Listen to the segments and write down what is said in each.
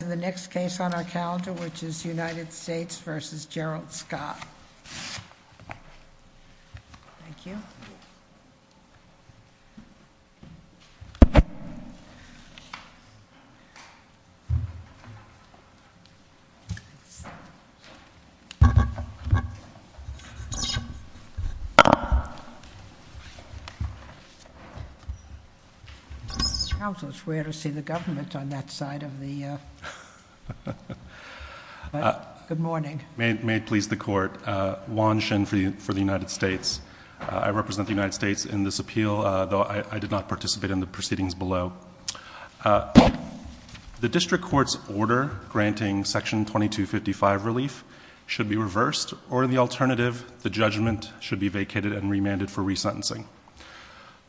The next case on our calendar, which is United States v. Gerald Scott. Thank you. Counsel, it's rare to see the government on that side of the, uh... Good morning. May it please the court, Juan Shin for the United States. I represent the United States in this appeal, though I did not participate in the proceedings below. The district court's order granting section 2255 relief should be reversed, or the alternative, the judgment should be vacated and remanded for resentencing.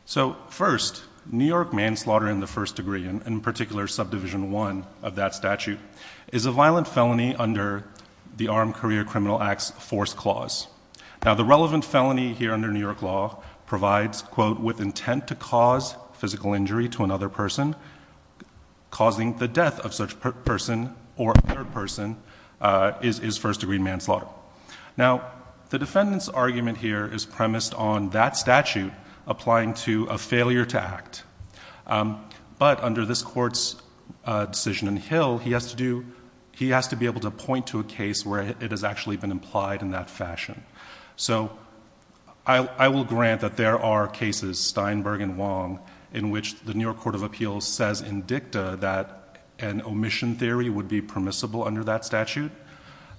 So, first, New York manslaughter in the first degree, and in particular subdivision 1 of that statute, is a violent felony under the Armed Career Criminal Acts Force Clause. Now, the relevant felony here under New York law provides, quote, with intent to cause physical injury to another person, causing the death of such person or other person is first degree manslaughter. Now, the defendant's argument here is premised on that statute applying to a failure to act. But under this court's decision in Hill, he has to be able to point to a case where it has actually been implied in that fashion. So, I will grant that there are cases, Steinberg and Wong, in which the New York Court of Appeals says in dicta that an omission theory would be permissible under that statute.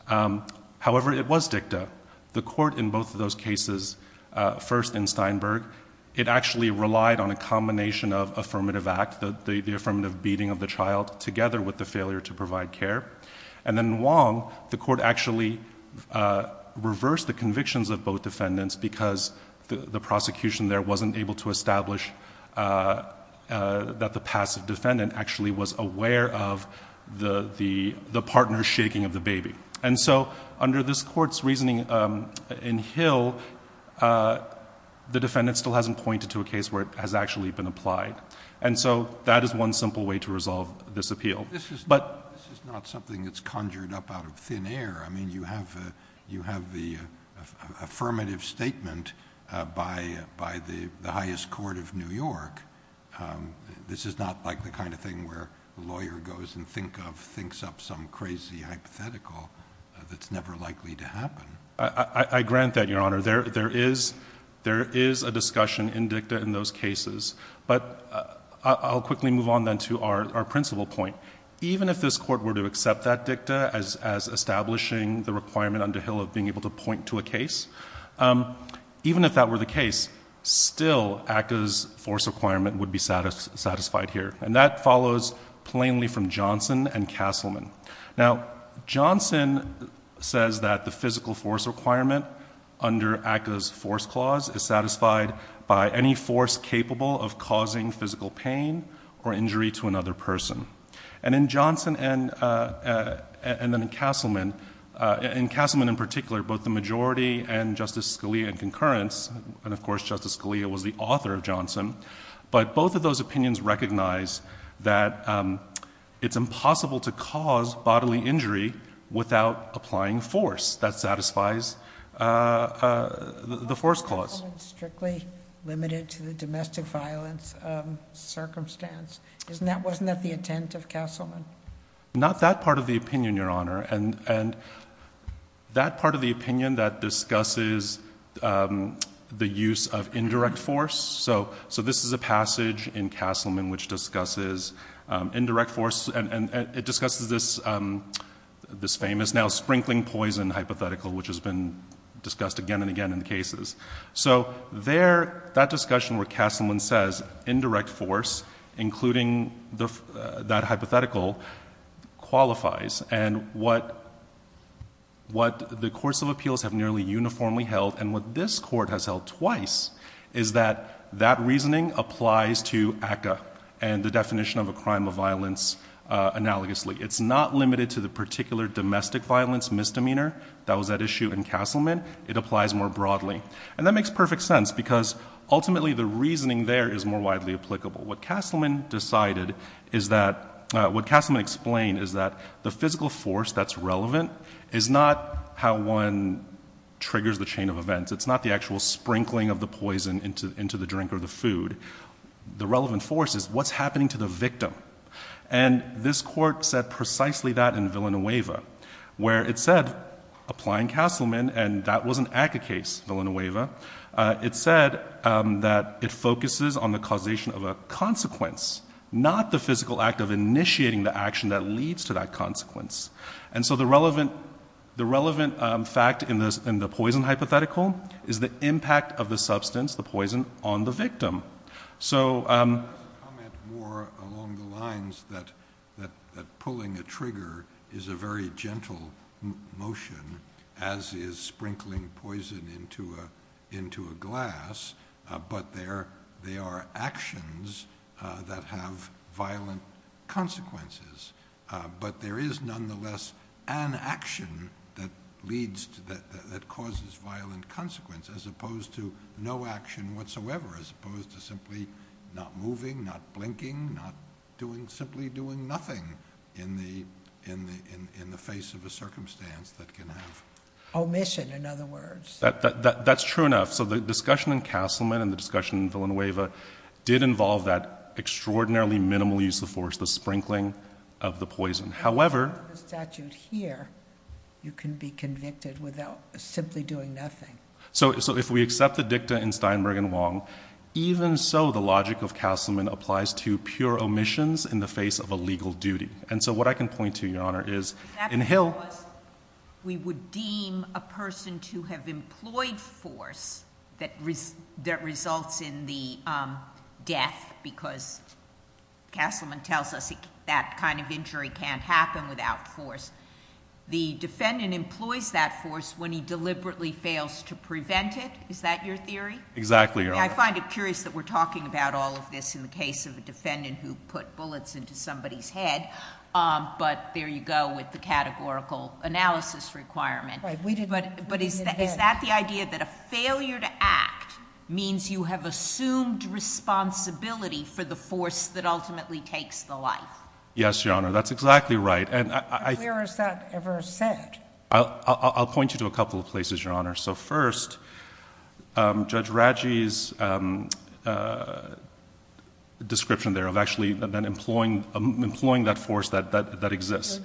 However, it was dicta. The court in both of those cases, first in Steinberg, it actually relied on a combination of affirmative act, the affirmative beating of the child together with the failure to provide care. And then Wong, the court actually reversed the convictions of both defendants because the prosecution there wasn't able to establish that the passive defendant actually was aware of the partner's shaking of the baby. And so, under this court's reasoning in Hill, the defendant still hasn't pointed to a case where it has actually been applied. And so, that is one simple way to resolve this appeal. This is not something that's conjured up out of thin air. I mean, you have the affirmative statement by the highest court of New York. This is not like the kind of thing where a lawyer goes and thinks up some crazy hypothetical that's never likely to happen. I grant that, Your Honor. There is a discussion in dicta in those cases. But I'll quickly move on then to our principal point. Even if this court were to accept that dicta as establishing the requirement under Hill of being able to point to a case, even if that were the case, still ACCA's force requirement would be satisfied here. And that follows plainly from Johnson and Castleman. Now, Johnson says that the physical force requirement under ACCA's force clause is satisfied by any force capable of causing physical pain or injury to another person. And in Johnson and Castleman, in Castleman in particular, both the majority and Justice Scalia in concurrence, and of course Justice Scalia was the author of Johnson, but both of those opinions recognize that it's impossible to cause bodily injury without applying force that satisfies the force clause. Why wasn't Castleman strictly limited to the domestic violence circumstance? Wasn't that the intent of Castleman? Not that part of the opinion, Your Honor. And that part of the opinion that discusses the use of indirect force. So this is a passage in Castleman which discusses indirect force and it discusses this famous now sprinkling poison hypothetical which has been discussed again and again in the cases. So that discussion where Castleman says indirect force including that hypothetical qualifies and what the courts of appeals have nearly uniformly held and what this court has held twice is that that reasoning applies to ACCA and the definition of a crime of violence analogously. It's not limited to the particular domestic violence misdemeanor that was at issue in Castleman. It applies more broadly. And that makes perfect sense because ultimately the reasoning there is more widely applicable. What Castleman explained is that the physical force that's relevant is not how one triggers the chain of events. It's not the actual sprinkling of the poison into the drink or the food. The relevant force is what's happening to the victim. And this court said precisely that in Villanueva where it said applying Castleman and that was an ACCA case, Villanueva, it said that it focuses on the causation of a consequence, not the physical act of initiating the action that leads to that consequence. And so the relevant fact in the poison hypothetical is the impact of the substance, the poison, on the victim. So I'm going to comment more along the lines that pulling a trigger is a very gentle motion as is sprinkling poison into a glass, but they are actions that have violent consequences. But there is nonetheless an action that causes violent consequences as opposed to no action whatsoever, as opposed to simply not moving, not blinking, not simply doing nothing in the face of a circumstance that can have... Omission, in other words. That's true enough. So the discussion in Castleman and the discussion in Villanueva did involve that extraordinarily minimal use of force, the sprinkling of the poison. However... The statute here, you can be convicted without simply doing nothing. So if we accept the dicta in Steinberg and Wong, even so the logic of Castleman applies to pure omissions in the face of a legal duty. And so what I can point to, Your Honor, is in Hill... We would deem a person to have employed force that results in the death because Castleman tells us that kind of injury can't happen without force. The defendant employs that force when he deliberately fails to prevent it. Is that your theory? Exactly, Your Honor. I find it curious that we're talking about all of this in the case of a defendant who put bullets into somebody's head, but there you go with the categorical analysis requirement. But is that the idea that a failure to act means you have assumed responsibility for the force that ultimately takes the life? Yes, Your Honor, that's exactly right. Where is that ever said? I'll point you to a couple of places, Your Honor. So first, Judge Raggi's description there of actually employing that force that exists.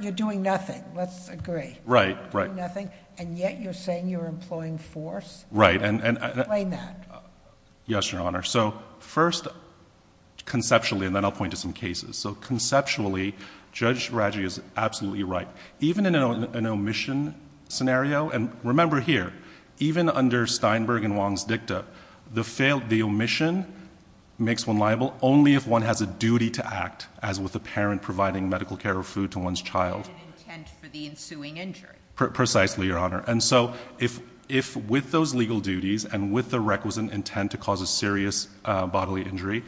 You're doing nothing, let's agree. Right, right. You're doing nothing, and yet you're saying you're employing force? Right. Explain that. Yes, Your Honor. So first, conceptually, and then I'll point to some cases. So conceptually, Judge Raggi is absolutely right. Even in an omission scenario, and remember here, even under Steinberg and Wong's dicta, the omission makes one liable only if one has a duty to act, as with a parent providing medical care or food to one's child. Not an intent for the ensuing injury. Precisely, Your Honor. And so if with those legal duties and with the requisite intent to cause a serious bodily injury,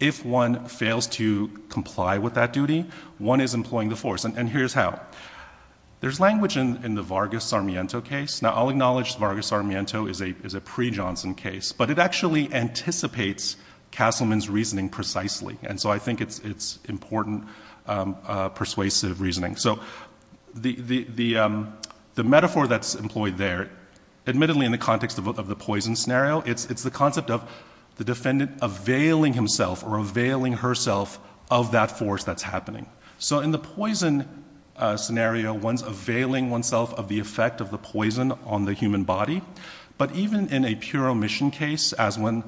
if one fails to comply with that duty, one is employing the force. And here's how. There's language in the Vargas-Sarmiento case. Now, I'll acknowledge Vargas-Sarmiento is a pre-Johnson case, but it actually anticipates Castleman's reasoning precisely, and so I think it's important persuasive reasoning. So the metaphor that's employed there, admittedly in the context of the poison scenario, it's the concept of the defendant availing himself or availing herself of that force that's happening. So in the poison scenario, one's availing oneself of the effect of the poison on the human body, but even in a pure omission case, as when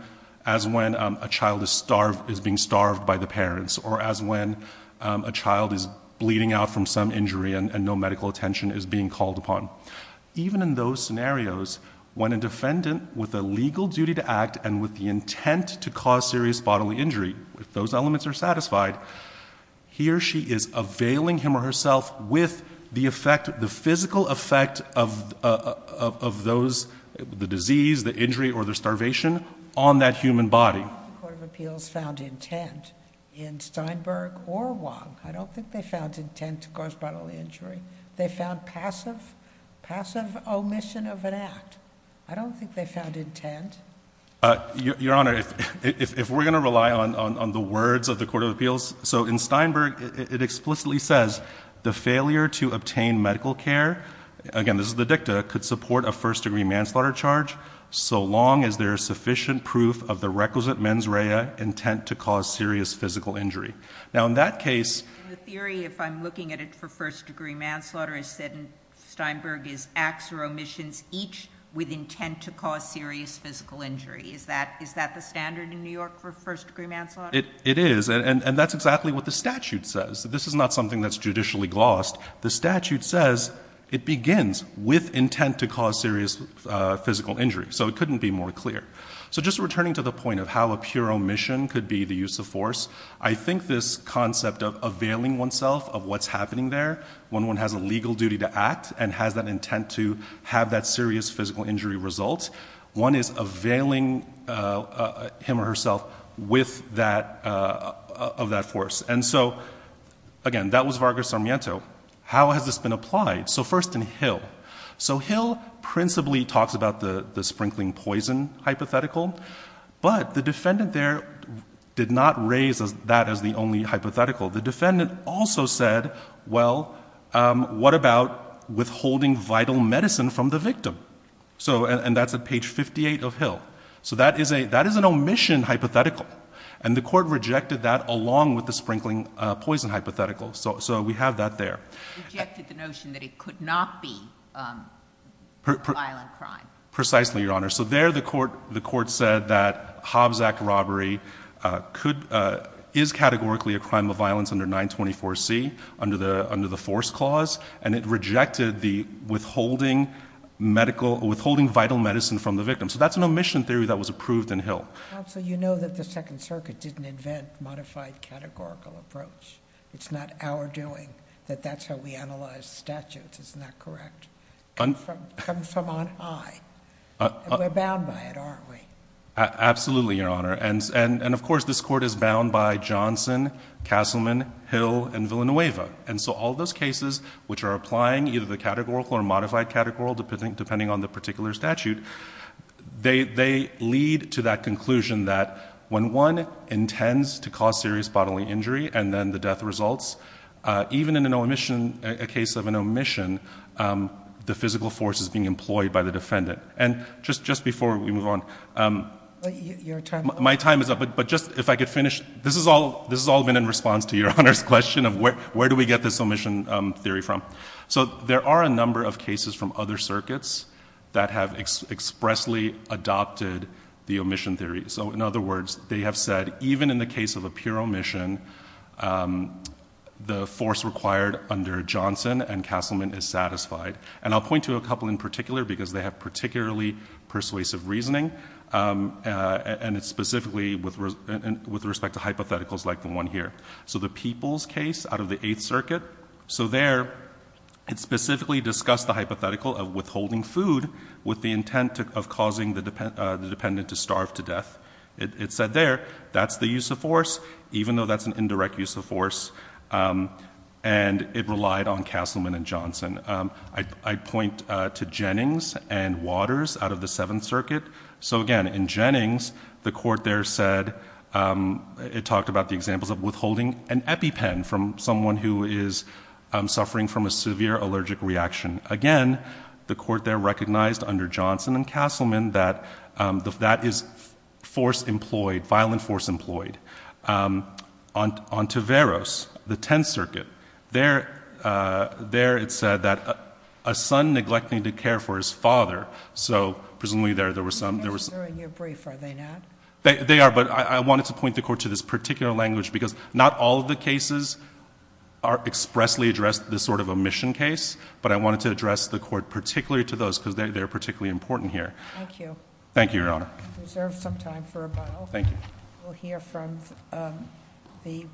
a child is being starved by the parents, or as when a child is bleeding out from some injury and no medical attention is being called upon. Even in those scenarios, when a defendant with a legal duty to act and with the intent to cause serious bodily injury, if those elements are satisfied, he or she is availing him or herself with the effect, the physical effect of those, the disease, the injury, or the starvation on that human body. I don't think the Court of Appeals found intent in Steinberg or Wong. I don't think they found intent to cause bodily injury. They found passive omission of an act. I don't think they found intent. Your Honor, if we're going to rely on the words of the Court of Appeals, so in Steinberg, it explicitly says, the failure to obtain medical care, again, this is the dicta, could support a first-degree manslaughter charge so long as there is sufficient proof of the requisite mens rea intent to cause serious physical injury. Now, in that case... In the theory, if I'm looking at it for first-degree manslaughter, I said Steinberg is acts or omissions each with intent to cause serious physical injury. Is that the standard in New York for first-degree manslaughter? It is, and that's exactly what the statute says. This is not something that's judicially glossed. The statute says it begins with intent to cause serious physical injury, so it couldn't be more clear. So just returning to the point of how a pure omission could be the use of force, I think this concept of availing oneself of what's happening there, when one has a legal duty to act and has that intent to have that serious physical injury result, one is availing him or herself of that force. And so, again, that was Vargas Sarmiento. How has this been applied? So first in Hill. So Hill principally talks about the sprinkling poison hypothetical, but the defendant there did not raise that as the only hypothetical. The defendant also said, well, what about withholding vital medicine from the victim? And that's at page 58 of Hill. So that is an omission hypothetical, and the Court rejected that along with the sprinkling poison hypothetical. So we have that there. Rejected the notion that it could not be a violent crime. Precisely, Your Honor. So there the Court said that Hobbs Act robbery is categorically a crime of violence under 924C, under the force clause, and it rejected the withholding vital medicine from the victim. So that's an omission theory that was approved in Hill. Counsel, you know that the Second Circuit didn't invent modified categorical approach. It's not our doing that that's how we analyze statutes. Isn't that correct? Come from on high. We're bound by it, aren't we? Absolutely, Your Honor. And of course this Court is bound by Johnson, Castleman, Hill, and Villanueva. And so all those cases which are applying either the categorical or modified categorical depending on the particular statute, they lead to that conclusion that when one intends to cause serious bodily injury and then the death results, even in a case of an omission, the physical force is being employed by the defendant. And just before we move on... Your time is up. My time is up, but just if I could finish. This has all been in response to Your Honor's question of where do we get this omission theory from. So there are a number of cases from other circuits that have expressly adopted the omission theory. So in other words, they have said that even in the case of a pure omission, the force required under Johnson and Castleman is satisfied. And I'll point to a couple in particular because they have particularly persuasive reasoning, and it's specifically with respect to hypotheticals like the one here. So the Peoples case out of the Eighth Circuit, so there it specifically discussed the hypothetical of withholding food with the intent of causing the dependent to starve to death. It said there that's the use of force, even though that's an indirect use of force, and it relied on Castleman and Johnson. I'd point to Jennings and Waters out of the Seventh Circuit. So again, in Jennings, the court there said... It talked about the examples of withholding an EpiPen from someone who is suffering from a severe allergic reaction. Again, the court there recognized under Johnson and Castleman that that is force employed, violent force employed. On Taveros, the Tenth Circuit, there it said that a son neglecting to care for his father, so presumably there were some... They're not considering your brief, are they not? They are, but I wanted to point the court to this particular language because not all of the cases expressly address this sort of omission case, but I wanted to address the court particularly to those because they're particularly important here. Thank you. Thank you, Your Honor. I reserve some time for a bow. Thank you. We'll hear from the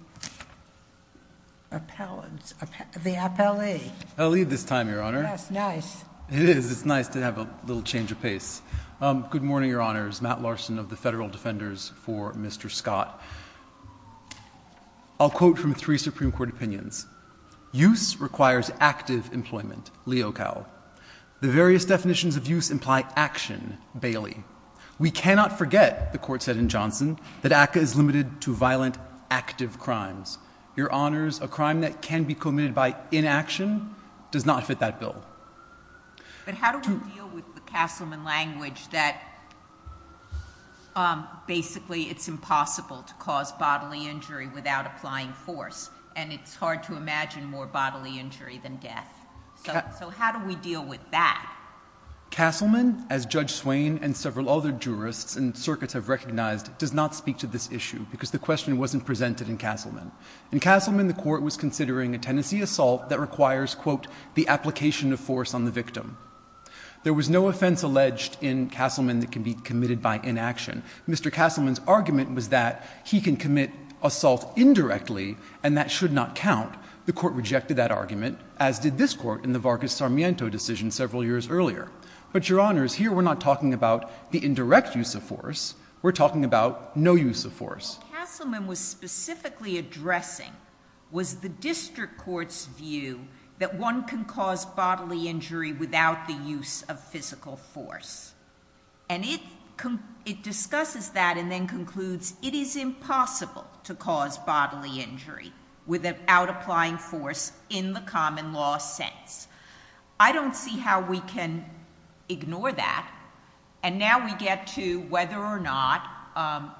appellant... the appellee. I'll leave this time, Your Honor. That's nice. It is. It's nice to have a little change of pace. Good morning, Your Honors. Matt Larson of the Federal Defenders for Mr. Scott. I'll quote from three Supreme Court opinions. Use requires active employment. Leo Cowell. The various definitions of use imply action. Bailey. We cannot forget, the court said in Johnson, that ACCA is limited to violent active crimes. Your Honors, a crime that can be committed by inaction does not fit that bill. But how do we deal with the Castleman language that basically it's impossible to cause bodily injury without applying force, and it's hard to imagine more bodily injury than death? So how do we deal with that? Castleman, as Judge Swain and several other jurists and circuits have recognized, does not speak to this issue because the question wasn't presented in Castleman. In Castleman, the court was considering a tenancy assault that requires, quote, the application of force on the victim. There was no offense alleged in Castleman that can be committed by inaction. Mr. Castleman's argument was that he can commit assault indirectly and that should not count. The court rejected that argument, as did this court in the Vargas-Sarmiento decision several years earlier. But Your Honors, here we're not talking about the indirect use of force. We're talking about no use of force. What Castleman was specifically addressing was the district court's view that one can cause bodily injury without the use of physical force. And it discusses that and then concludes it is impossible to cause bodily injury without applying force in the common law sense. I don't see how we can ignore that. And now we get to whether or not...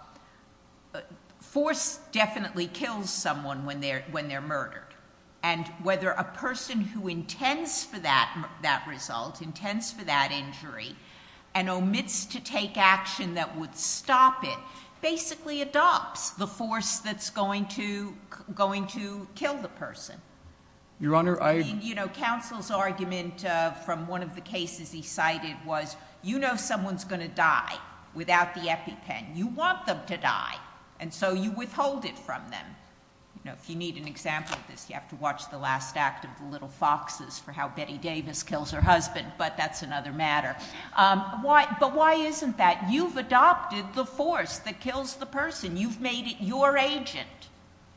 Force definitely kills someone when they're murdered. And whether a person who intends for that result, intends for that injury, and omits to take action that would stop it, basically adopts the force that's going to kill the person. Your Honor, I... You know, Counsel's argument from one of the cases he cited was, you know someone's going to die without the EpiPen. You want them to die, and so you withhold it from them. You know, if you need an example of this, you have to watch the last act of The Little Foxes for how Betty Davis kills her husband, but that's another matter. But why isn't that? You've adopted the force that kills the person. You've made it your agent.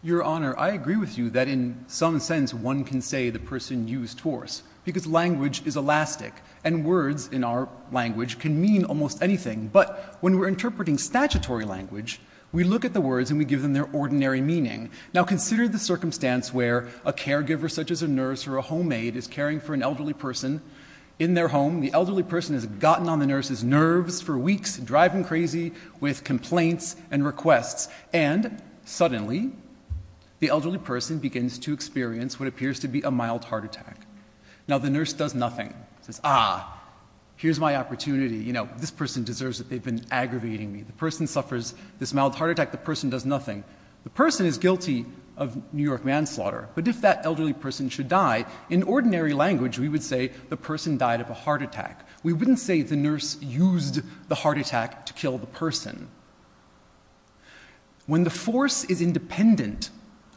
Your Honor, I agree with you that in some sense one can say the person used force, because language is elastic, and words in our language can mean almost anything. But when we're interpreting statutory language, we look at the words and we give them their ordinary meaning. Now consider the circumstance where a caregiver, such as a nurse or a homemaid, is caring for an elderly person in their home. The elderly person has gotten on the nurse's nerves for weeks, driving crazy with complaints and requests, and suddenly the elderly person begins to experience what appears to be a mild heart attack. Now the nurse does nothing. She says, ah, here's my opportunity. You know, this person deserves it. They've been aggravating me. The person suffers this mild heart attack. The person does nothing. The person is guilty of New York manslaughter. But if that elderly person should die, in ordinary language we would say the person died of a heart attack. We wouldn't say the nurse used the heart attack to kill the person. When the force is independent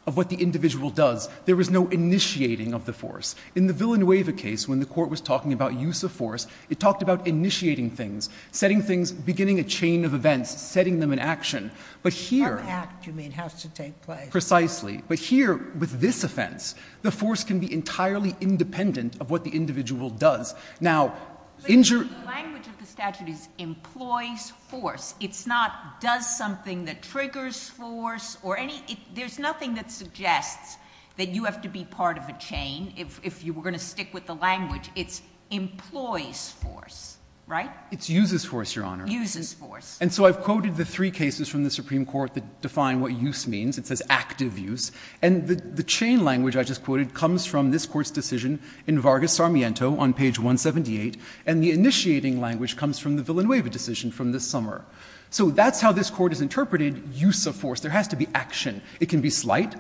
of what the individual does, there is no initiating of the force. In the Villanueva case, when the court was talking about use of force, it talked about initiating things, setting things, beginning a chain of events, setting them in action. But here... No act, you mean, has to take place. Precisely. But here, with this offense, the force can be entirely independent of what the individual does. Now... But the language of the statute is employs force. It's not does something that triggers force or any... There's nothing that suggests that you have to be part of a chain if you were going to stick with the language. It's employs force, right? It's uses force, Your Honor. Uses force. And so I've quoted the three cases from the Supreme Court that define what use means. It says active use. And the chain language I just quoted comes from this Court's decision in Vargas-Sarmiento on page 178. And the initiating language comes from the Villanueva decision from this summer. So that's how this Court has interpreted use of force. There has to be action. It can be slight,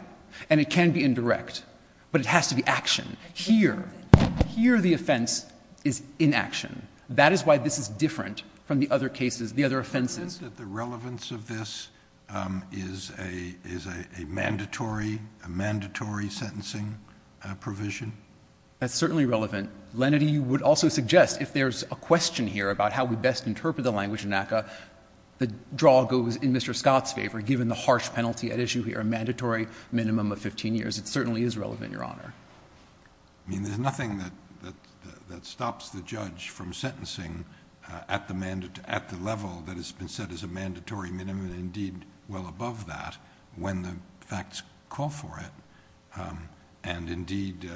and it can be indirect. But it has to be action. Here, here the offense is inaction. That is why this is different from the other cases, the other offenses. Isn't that the relevance of this is a mandatory, a mandatory sentencing provision? That's certainly relevant. Lenaty would also suggest if there's a question here about how we best interpret the language in NACA, the draw goes in Mr. Scott's favor, given the harsh penalty at issue here, a mandatory minimum of 15 years. It certainly is relevant, Your Honor. I mean, there's nothing that stops the judge from sentencing at the level that has been set as a mandatory minimum, and indeed well above that, when the facts call for it. And indeed,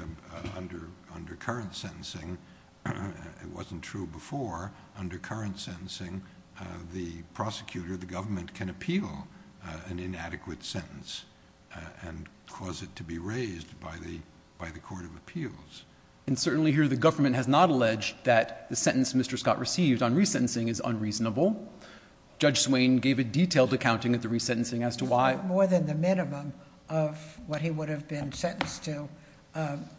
under current sentencing, it wasn't true before, under current sentencing, the prosecutor, the government, can appeal an inadequate sentence and cause it to be raised by the Court of Appeals. And certainly here the government has not alleged that the sentence Mr. Scott received on resentencing is unreasonable. Judge Swain gave a detailed accounting of the resentencing as to why... More than the minimum of what he would have been sentenced to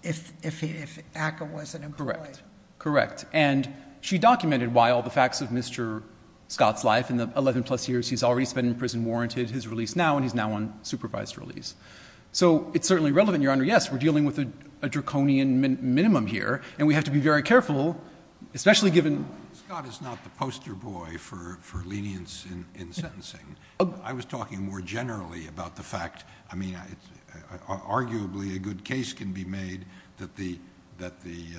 if ACCA wasn't employed. Correct. Correct. And she documented why all the facts of Mr. Scott's life in the 11-plus years he's already spent in prison warranted his release now, and he's now on supervised release. So it's certainly relevant, Your Honor. Yes, we're dealing with a draconian minimum here, and we have to be very careful, especially given... Scott is not the poster boy for lenience in sentencing. I was talking more generally about the fact... I mean, arguably a good case can be made that the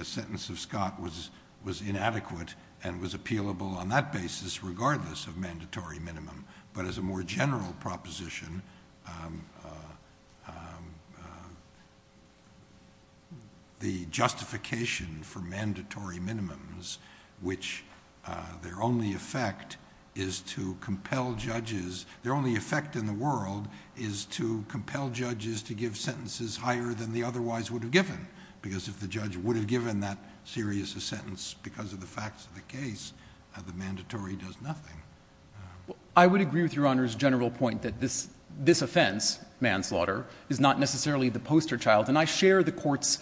sentence of Scott was inadequate and was appealable on that basis, regardless of mandatory minimum. But as a more general proposition... The justification for mandatory minimums, which their only effect is to compel judges... Their only effect in the world is to compel judges to give sentences higher than they otherwise would have given, because if the judge would have given that serious a sentence because of the facts of the case, the mandatory does nothing. I would agree with Your Honor's general point that this offense, manslaughter, is not necessarily the poster child. And I share the Court's,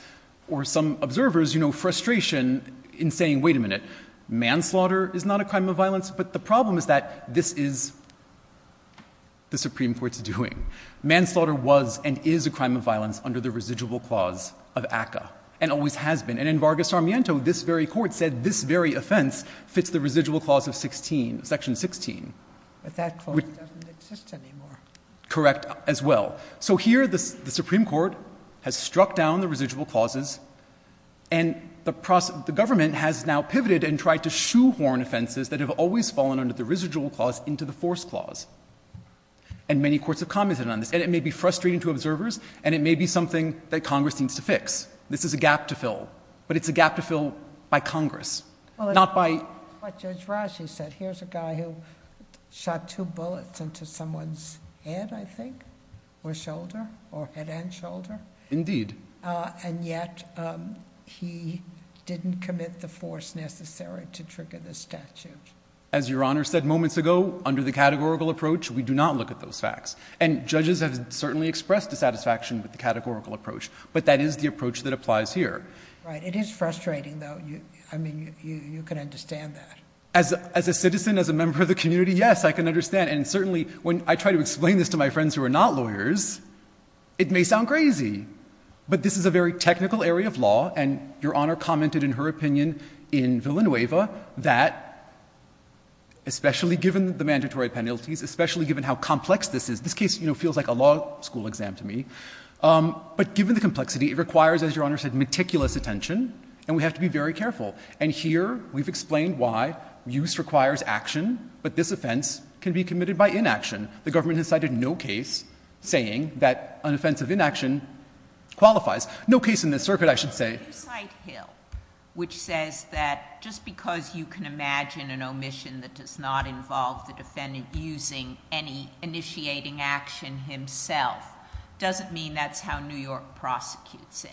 or some observer's, frustration in saying, wait a minute, manslaughter is not a crime of violence? But the problem is that this is the Supreme Court's doing. Manslaughter was and is a crime of violence under the residual clause of ACCA, and always has been. And in Vargas Armiento, this very Court said this very offense fits the residual clause of Section 16. But that clause doesn't exist anymore. Correct, as well. So here the Supreme Court has struck down the residual clauses, and the government has now pivoted and tried to shoehorn offenses that have always fallen under the residual clause into the force clause. And many courts have commented on this. And it may be frustrating to observers, and it may be something that Congress needs to fix. This is a gap to fill. But it's a gap to fill by Congress, not by... That's what Judge Rashi said. Here's a guy who shot two bullets into someone's head, I think, or shoulder, or head and shoulder. Indeed. And yet he didn't commit the force necessary to trigger the statute. As Your Honor said moments ago, under the categorical approach, we do not look at those facts. And judges have certainly expressed dissatisfaction with the categorical approach. But that is the approach that applies here. Right. It is frustrating, though. I mean, you can understand that. As a citizen, as a member of the community, yes, I can understand. And certainly when I try to explain this to my friends who are not lawyers, it may sound crazy. But this is a very technical area of law, and Your Honor commented in her opinion in Villanueva that, especially given the mandatory penalties, especially given how complex this is, this case feels like a law school exam to me. But given the complexity, it requires, as Your Honor said, meticulous attention. And we have to be very careful. And here we've explained why use requires action, but this offense can be committed by inaction. The government has cited no case saying that an offense of inaction qualifies. No case in this circuit, I should say. You cite Hill, which says that just because you can imagine an omission that does not involve the defendant using any initiating action himself doesn't mean that's how New York prosecutes it.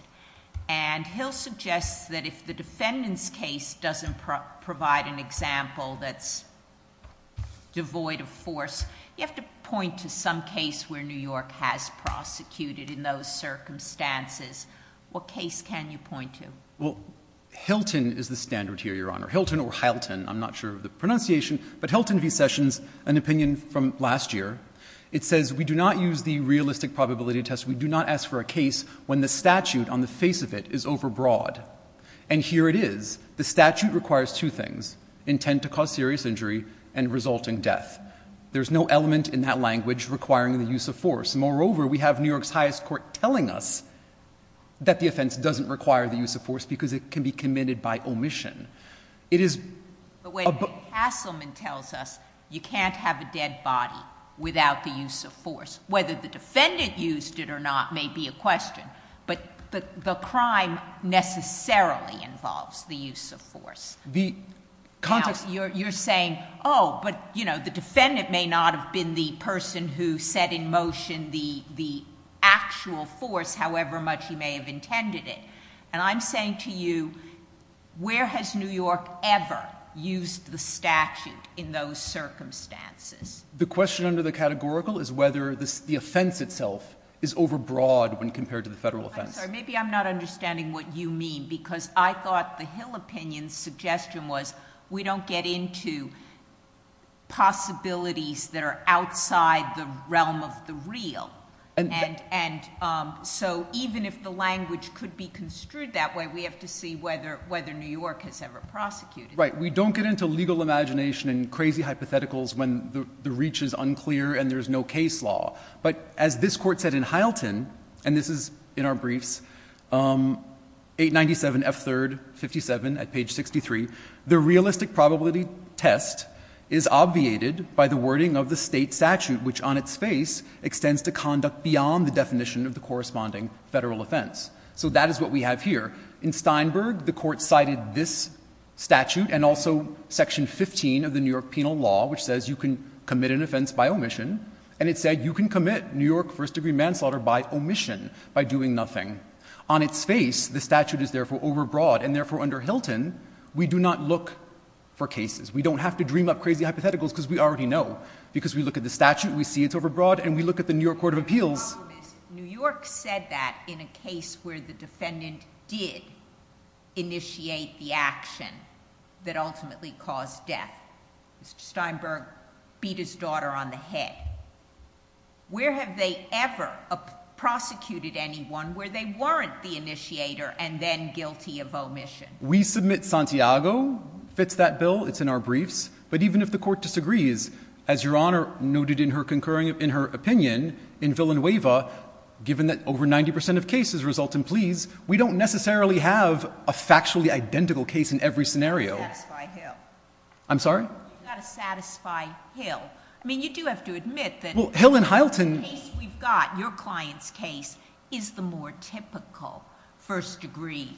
And Hill suggests that if the defendant's case doesn't provide an example that's devoid of force, you have to point to some case where New York has prosecuted in those circumstances. What case can you point to? Well, Hilton is the standard here, Your Honor. Hilton or Hylton, I'm not sure of the pronunciation, but Hilton v. Sessions, an opinion from last year, it says we do not use the realistic probability test. We do not ask for a case when the statute on the face of it is overbroad. And here it is. The statute requires two things. Intent to cause serious injury and resulting death. There's no element in that language requiring the use of force. Moreover, we have New York's highest court telling us that the offense doesn't require the use of force because it can be committed by omission. It is... But wait. Hasselman tells us you can't have a dead body without the use of force, whether the defendant used it or not may be a question, but the crime necessarily involves the use of force. The context... You're saying, oh, but, you know, the defendant may not have been the person who set in motion the actual force, however much he may have intended it. And I'm saying to you, where has New York ever used the statute in those circumstances? The question under the categorical is whether the offense itself is overbroad when compared to the federal offense. I'm sorry, maybe I'm not understanding what you mean because I thought the Hill opinion's suggestion was we don't get into possibilities that are outside the realm of the real. And so even if the language could be construed that way, we have to see whether New York has ever prosecuted that. Right. We don't get into legal imagination and crazy hypotheticals when the reach is unclear and there's no case law. But as this Court said in Hylton, and this is in our briefs, 897F3rd57 at page 63, the realistic probability test is obviated by the wording of the state statute, which on its face extends to conduct beyond the definition of the corresponding federal offense. So that is what we have here. In Steinberg, the Court cited this statute and also section 15 of the New York penal law, which says you can commit an offense by omission, and it said you can commit New York first-degree manslaughter by omission, by doing nothing. On its face, the statute is therefore overbroad, and therefore under Hylton, we do not look for cases. We don't have to dream up crazy hypotheticals because we already know. Because we look at the statute, we see it's overbroad, and we look at the New York Court of Appeals. The problem is New York said that in a case where the defendant did initiate the action that ultimately caused death. Mr. Steinberg beat his daughter on the head. Where have they ever prosecuted anyone where they weren't the initiator and then guilty of omission? We submit Santiago fits that bill. It's in our briefs. But even if the Court disagrees, as Your Honor noted in her opinion in Villanueva, given that over 90% of cases result in pleas, we don't necessarily have a factually identical case in every scenario. You've got to satisfy Hill. I'm sorry? You've got to satisfy Hill. I mean, you do have to admit that the case we've got, your client's case, is the more typical first-degree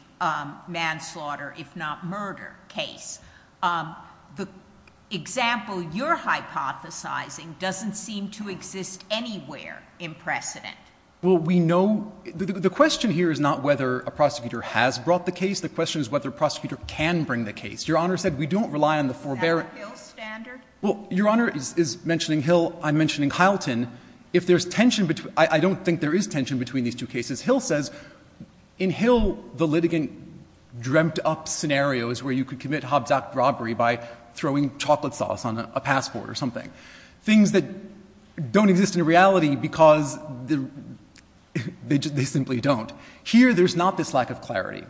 manslaughter, if not murder, case. The example you're hypothesizing doesn't seem to exist anywhere in precedent. Well, we know the question here is not whether a prosecutor has brought the case. The question is whether a prosecutor can bring the case. Your Honor said we don't rely on the forbearance. Is that a Hill standard? Well, Your Honor is mentioning Hill. I'm mentioning Hylton. If there's tension between them, I don't think there is tension between these two cases. Hill says in Hill the litigant dreamt up scenarios where you could commit Hobbs Act robbery by throwing chocolate sauce on a passport or something, things that don't exist in reality because they simply don't. Here there's not this lack of clarity.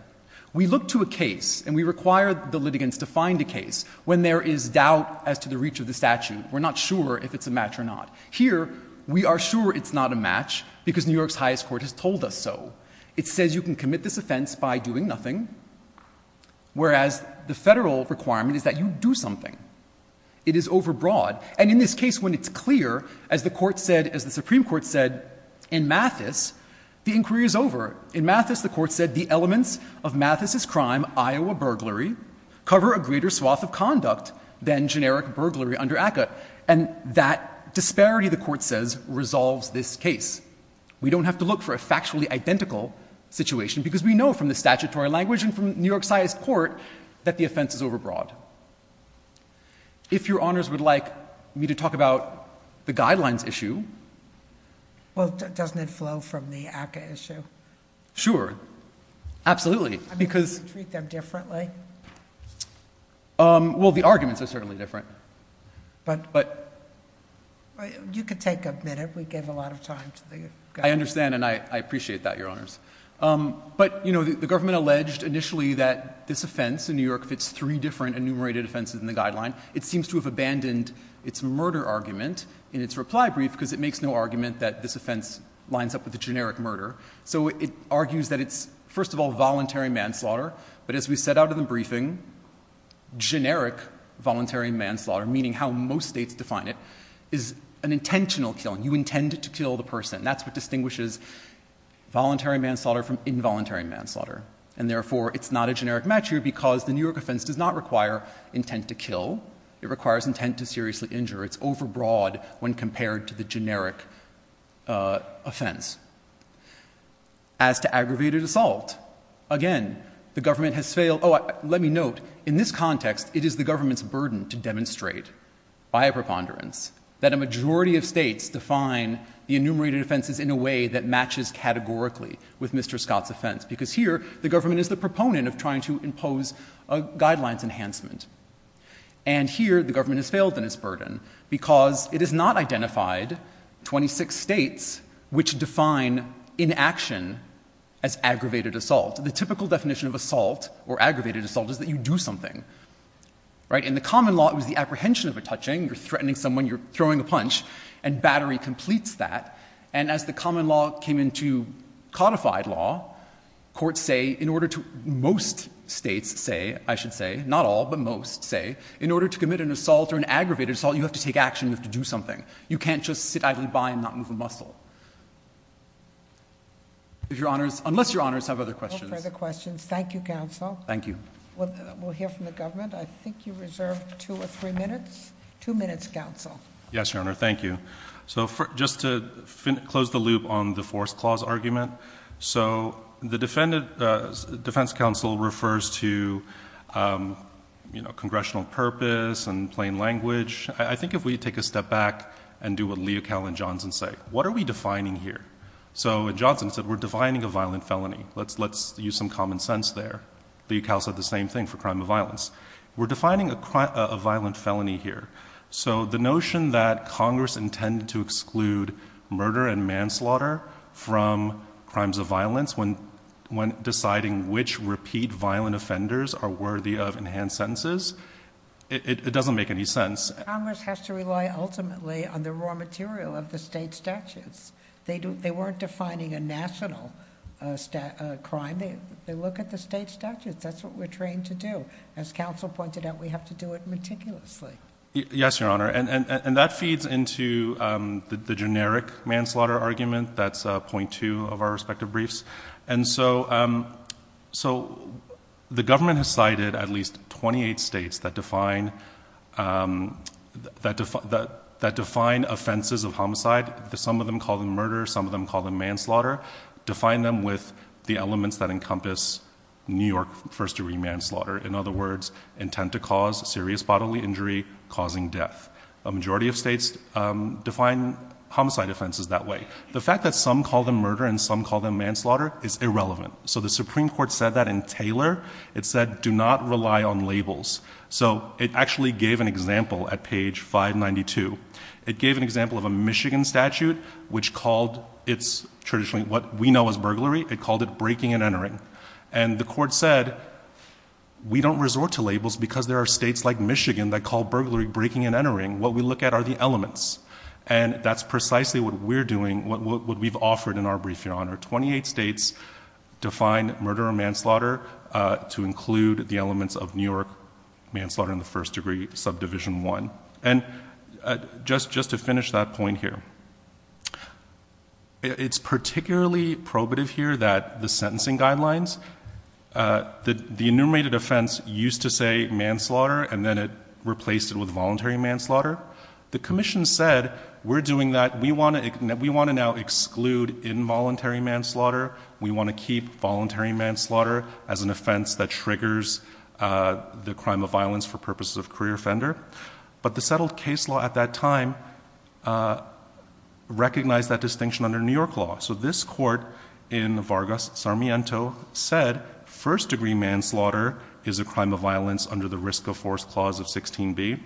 We look to a case and we require the litigants to find a case when there is doubt as to the reach of the statute. We're not sure if it's a match or not. Here we are sure it's not a match because New York's highest court has told us so. It says you can commit this offense by doing nothing, whereas the Federal requirement is that you do something. It is overbroad. And in this case when it's clear, as the Supreme Court said in Mathis, the inquiry is over. In Mathis the court said the elements of Mathis's crime, Iowa burglary, cover a greater swath of conduct than generic burglary under ACCA. And that disparity, the court says, resolves this case. We don't have to look for a factually identical situation because we know from the statutory language and from New York's highest court that the offense is overbroad. If your Honours would like me to talk about the guidelines issue... Well, doesn't it flow from the ACCA issue? Sure. Absolutely. I mean, do you treat them differently? Well, the arguments are certainly different. But you could take a minute. We gave a lot of time to the guidelines. I understand and I appreciate that, Your Honours. But, you know, the government alleged initially that this offense in New York fits three different enumerated offenses in the guideline. It seems to have abandoned its murder argument in its reply brief because it makes no argument that this offense lines up with a generic murder. So it argues that it's, first of all, voluntary manslaughter. But as we set out in the briefing, generic voluntary manslaughter, meaning how most states define it, is an intentional killing. You intend to kill the person. That's what distinguishes voluntary manslaughter from involuntary manslaughter. And, therefore, it's not a generic match here because the New York offense does not require intent to kill. It requires intent to seriously injure. It's overbroad when compared to the generic offense. As to aggravated assault, again, the government has failed. Oh, let me note, in this context, it is the government's burden to demonstrate by a preponderance that a majority of states define the enumerated offenses in a way that matches categorically with Mr. Scott's offense because here the government is the proponent of trying to impose a guidelines enhancement. And here the government has failed in its burden because it has not identified 26 states which define inaction as aggravated assault. The typical definition of assault or aggravated assault is that you do something. In the common law, it was the apprehension of a touching. You're threatening someone. You're throwing a punch. And battery completes that. And as the common law came into codified law, courts say in order to... In order to commit an assault or an aggravated assault, you have to take action. You have to do something. You can't just sit idly by and not move a muscle. Unless Your Honors have other questions. No further questions. Thank you, counsel. Thank you. We'll hear from the government. I think you reserved two or three minutes. Two minutes, counsel. Yes, Your Honor. Thank you. So just to close the loop on the forced clause argument, so the defense counsel refers to, you know, congressional purpose and plain language. I think if we take a step back and do what Leocal and Johnson say, what are we defining here? So Johnson said we're defining a violent felony. Let's use some common sense there. Leocal said the same thing for crime of violence. We're defining a violent felony here. So the notion that Congress intended to exclude murder and manslaughter from crimes of violence when deciding which repeat violent offenders are worthy of enhanced sentences, it doesn't make any sense. Congress has to rely ultimately on the raw material of the state statutes. They weren't defining a national crime. They look at the state statutes. That's what we're trained to do. As counsel pointed out, we have to do it meticulously. Yes, Your Honor. And that feeds into the generic manslaughter argument. That's point two of our respective briefs. And so the government has cited at least 28 states that define offenses of homicide. Some of them call them murder. Some of them call them manslaughter. Define them with the elements that encompass New York first-degree manslaughter. In other words, intent to cause serious bodily injury causing death. A majority of states define homicide offenses that way. The fact that some call them murder and some call them manslaughter is irrelevant. So the Supreme Court said that in Taylor. It said, do not rely on labels. So it actually gave an example at page 592. It gave an example of a Michigan statute which called it's traditionally what we know as burglary. It called it breaking and entering. And the court said, we don't resort to labels because there are states like Michigan that call burglary breaking and entering. What we look at are the elements. And that's precisely what we're doing, what we've offered in our brief, Your Honor. 28 states define murder or manslaughter to include the elements of New York manslaughter in the first-degree subdivision one. And just to finish that point here, it's particularly probative here that the sentencing guidelines, the enumerated offense used to say manslaughter and then it replaced it with voluntary manslaughter. The commission said, we're doing that. We want to now exclude involuntary manslaughter. We want to keep voluntary manslaughter as an offense that triggers the crime of violence for purposes of career offender. But the settled case law at that time recognized that distinction under New York law. So this court in Vargas-Sarmiento said, first-degree manslaughter is a crime of violence under the risk of force clause of 16b.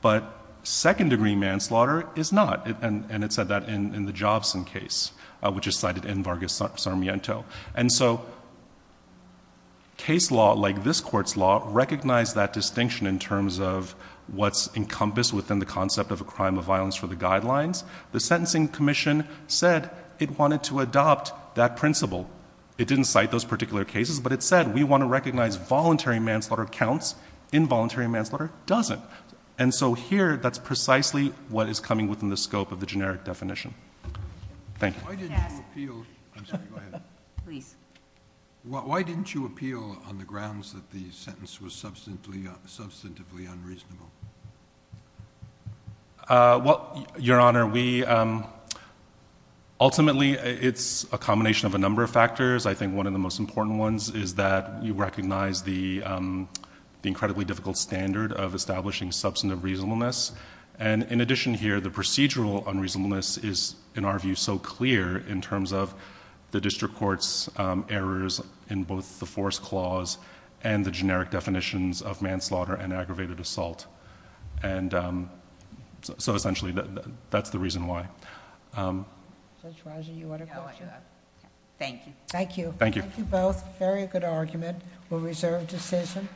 But second-degree manslaughter is not. And it said that in the Jobson case, which is cited in Vargas-Sarmiento. And so case law, like this court's law, recognized that distinction in terms of what's encompassed within the concept of a crime of violence for the guidelines. The sentencing commission said it wanted to adopt that principle. It didn't cite those particular cases. But it said, we want to recognize voluntary manslaughter counts. Involuntary manslaughter doesn't. And so here, that's precisely what is coming within the scope of the generic definition. Thank you. Why didn't you appeal? I'm sorry, go ahead. Please. Why didn't you appeal on the grounds that the sentence was substantively unreasonable? Well, Your Honor, ultimately, it's a combination of a number of factors. I think one of the most important ones is that you recognize the incredibly difficult standard of establishing substantive reasonableness. And in addition here, the procedural unreasonableness is, in our view, so clear in terms of the district court's errors in both the force clause and the generic definitions of manslaughter and aggravated assault. And so essentially, that's the reason why. Judge Roger, you had a question? Thank you. Thank you. Thank you both. Very good argument. We'll reserve decision.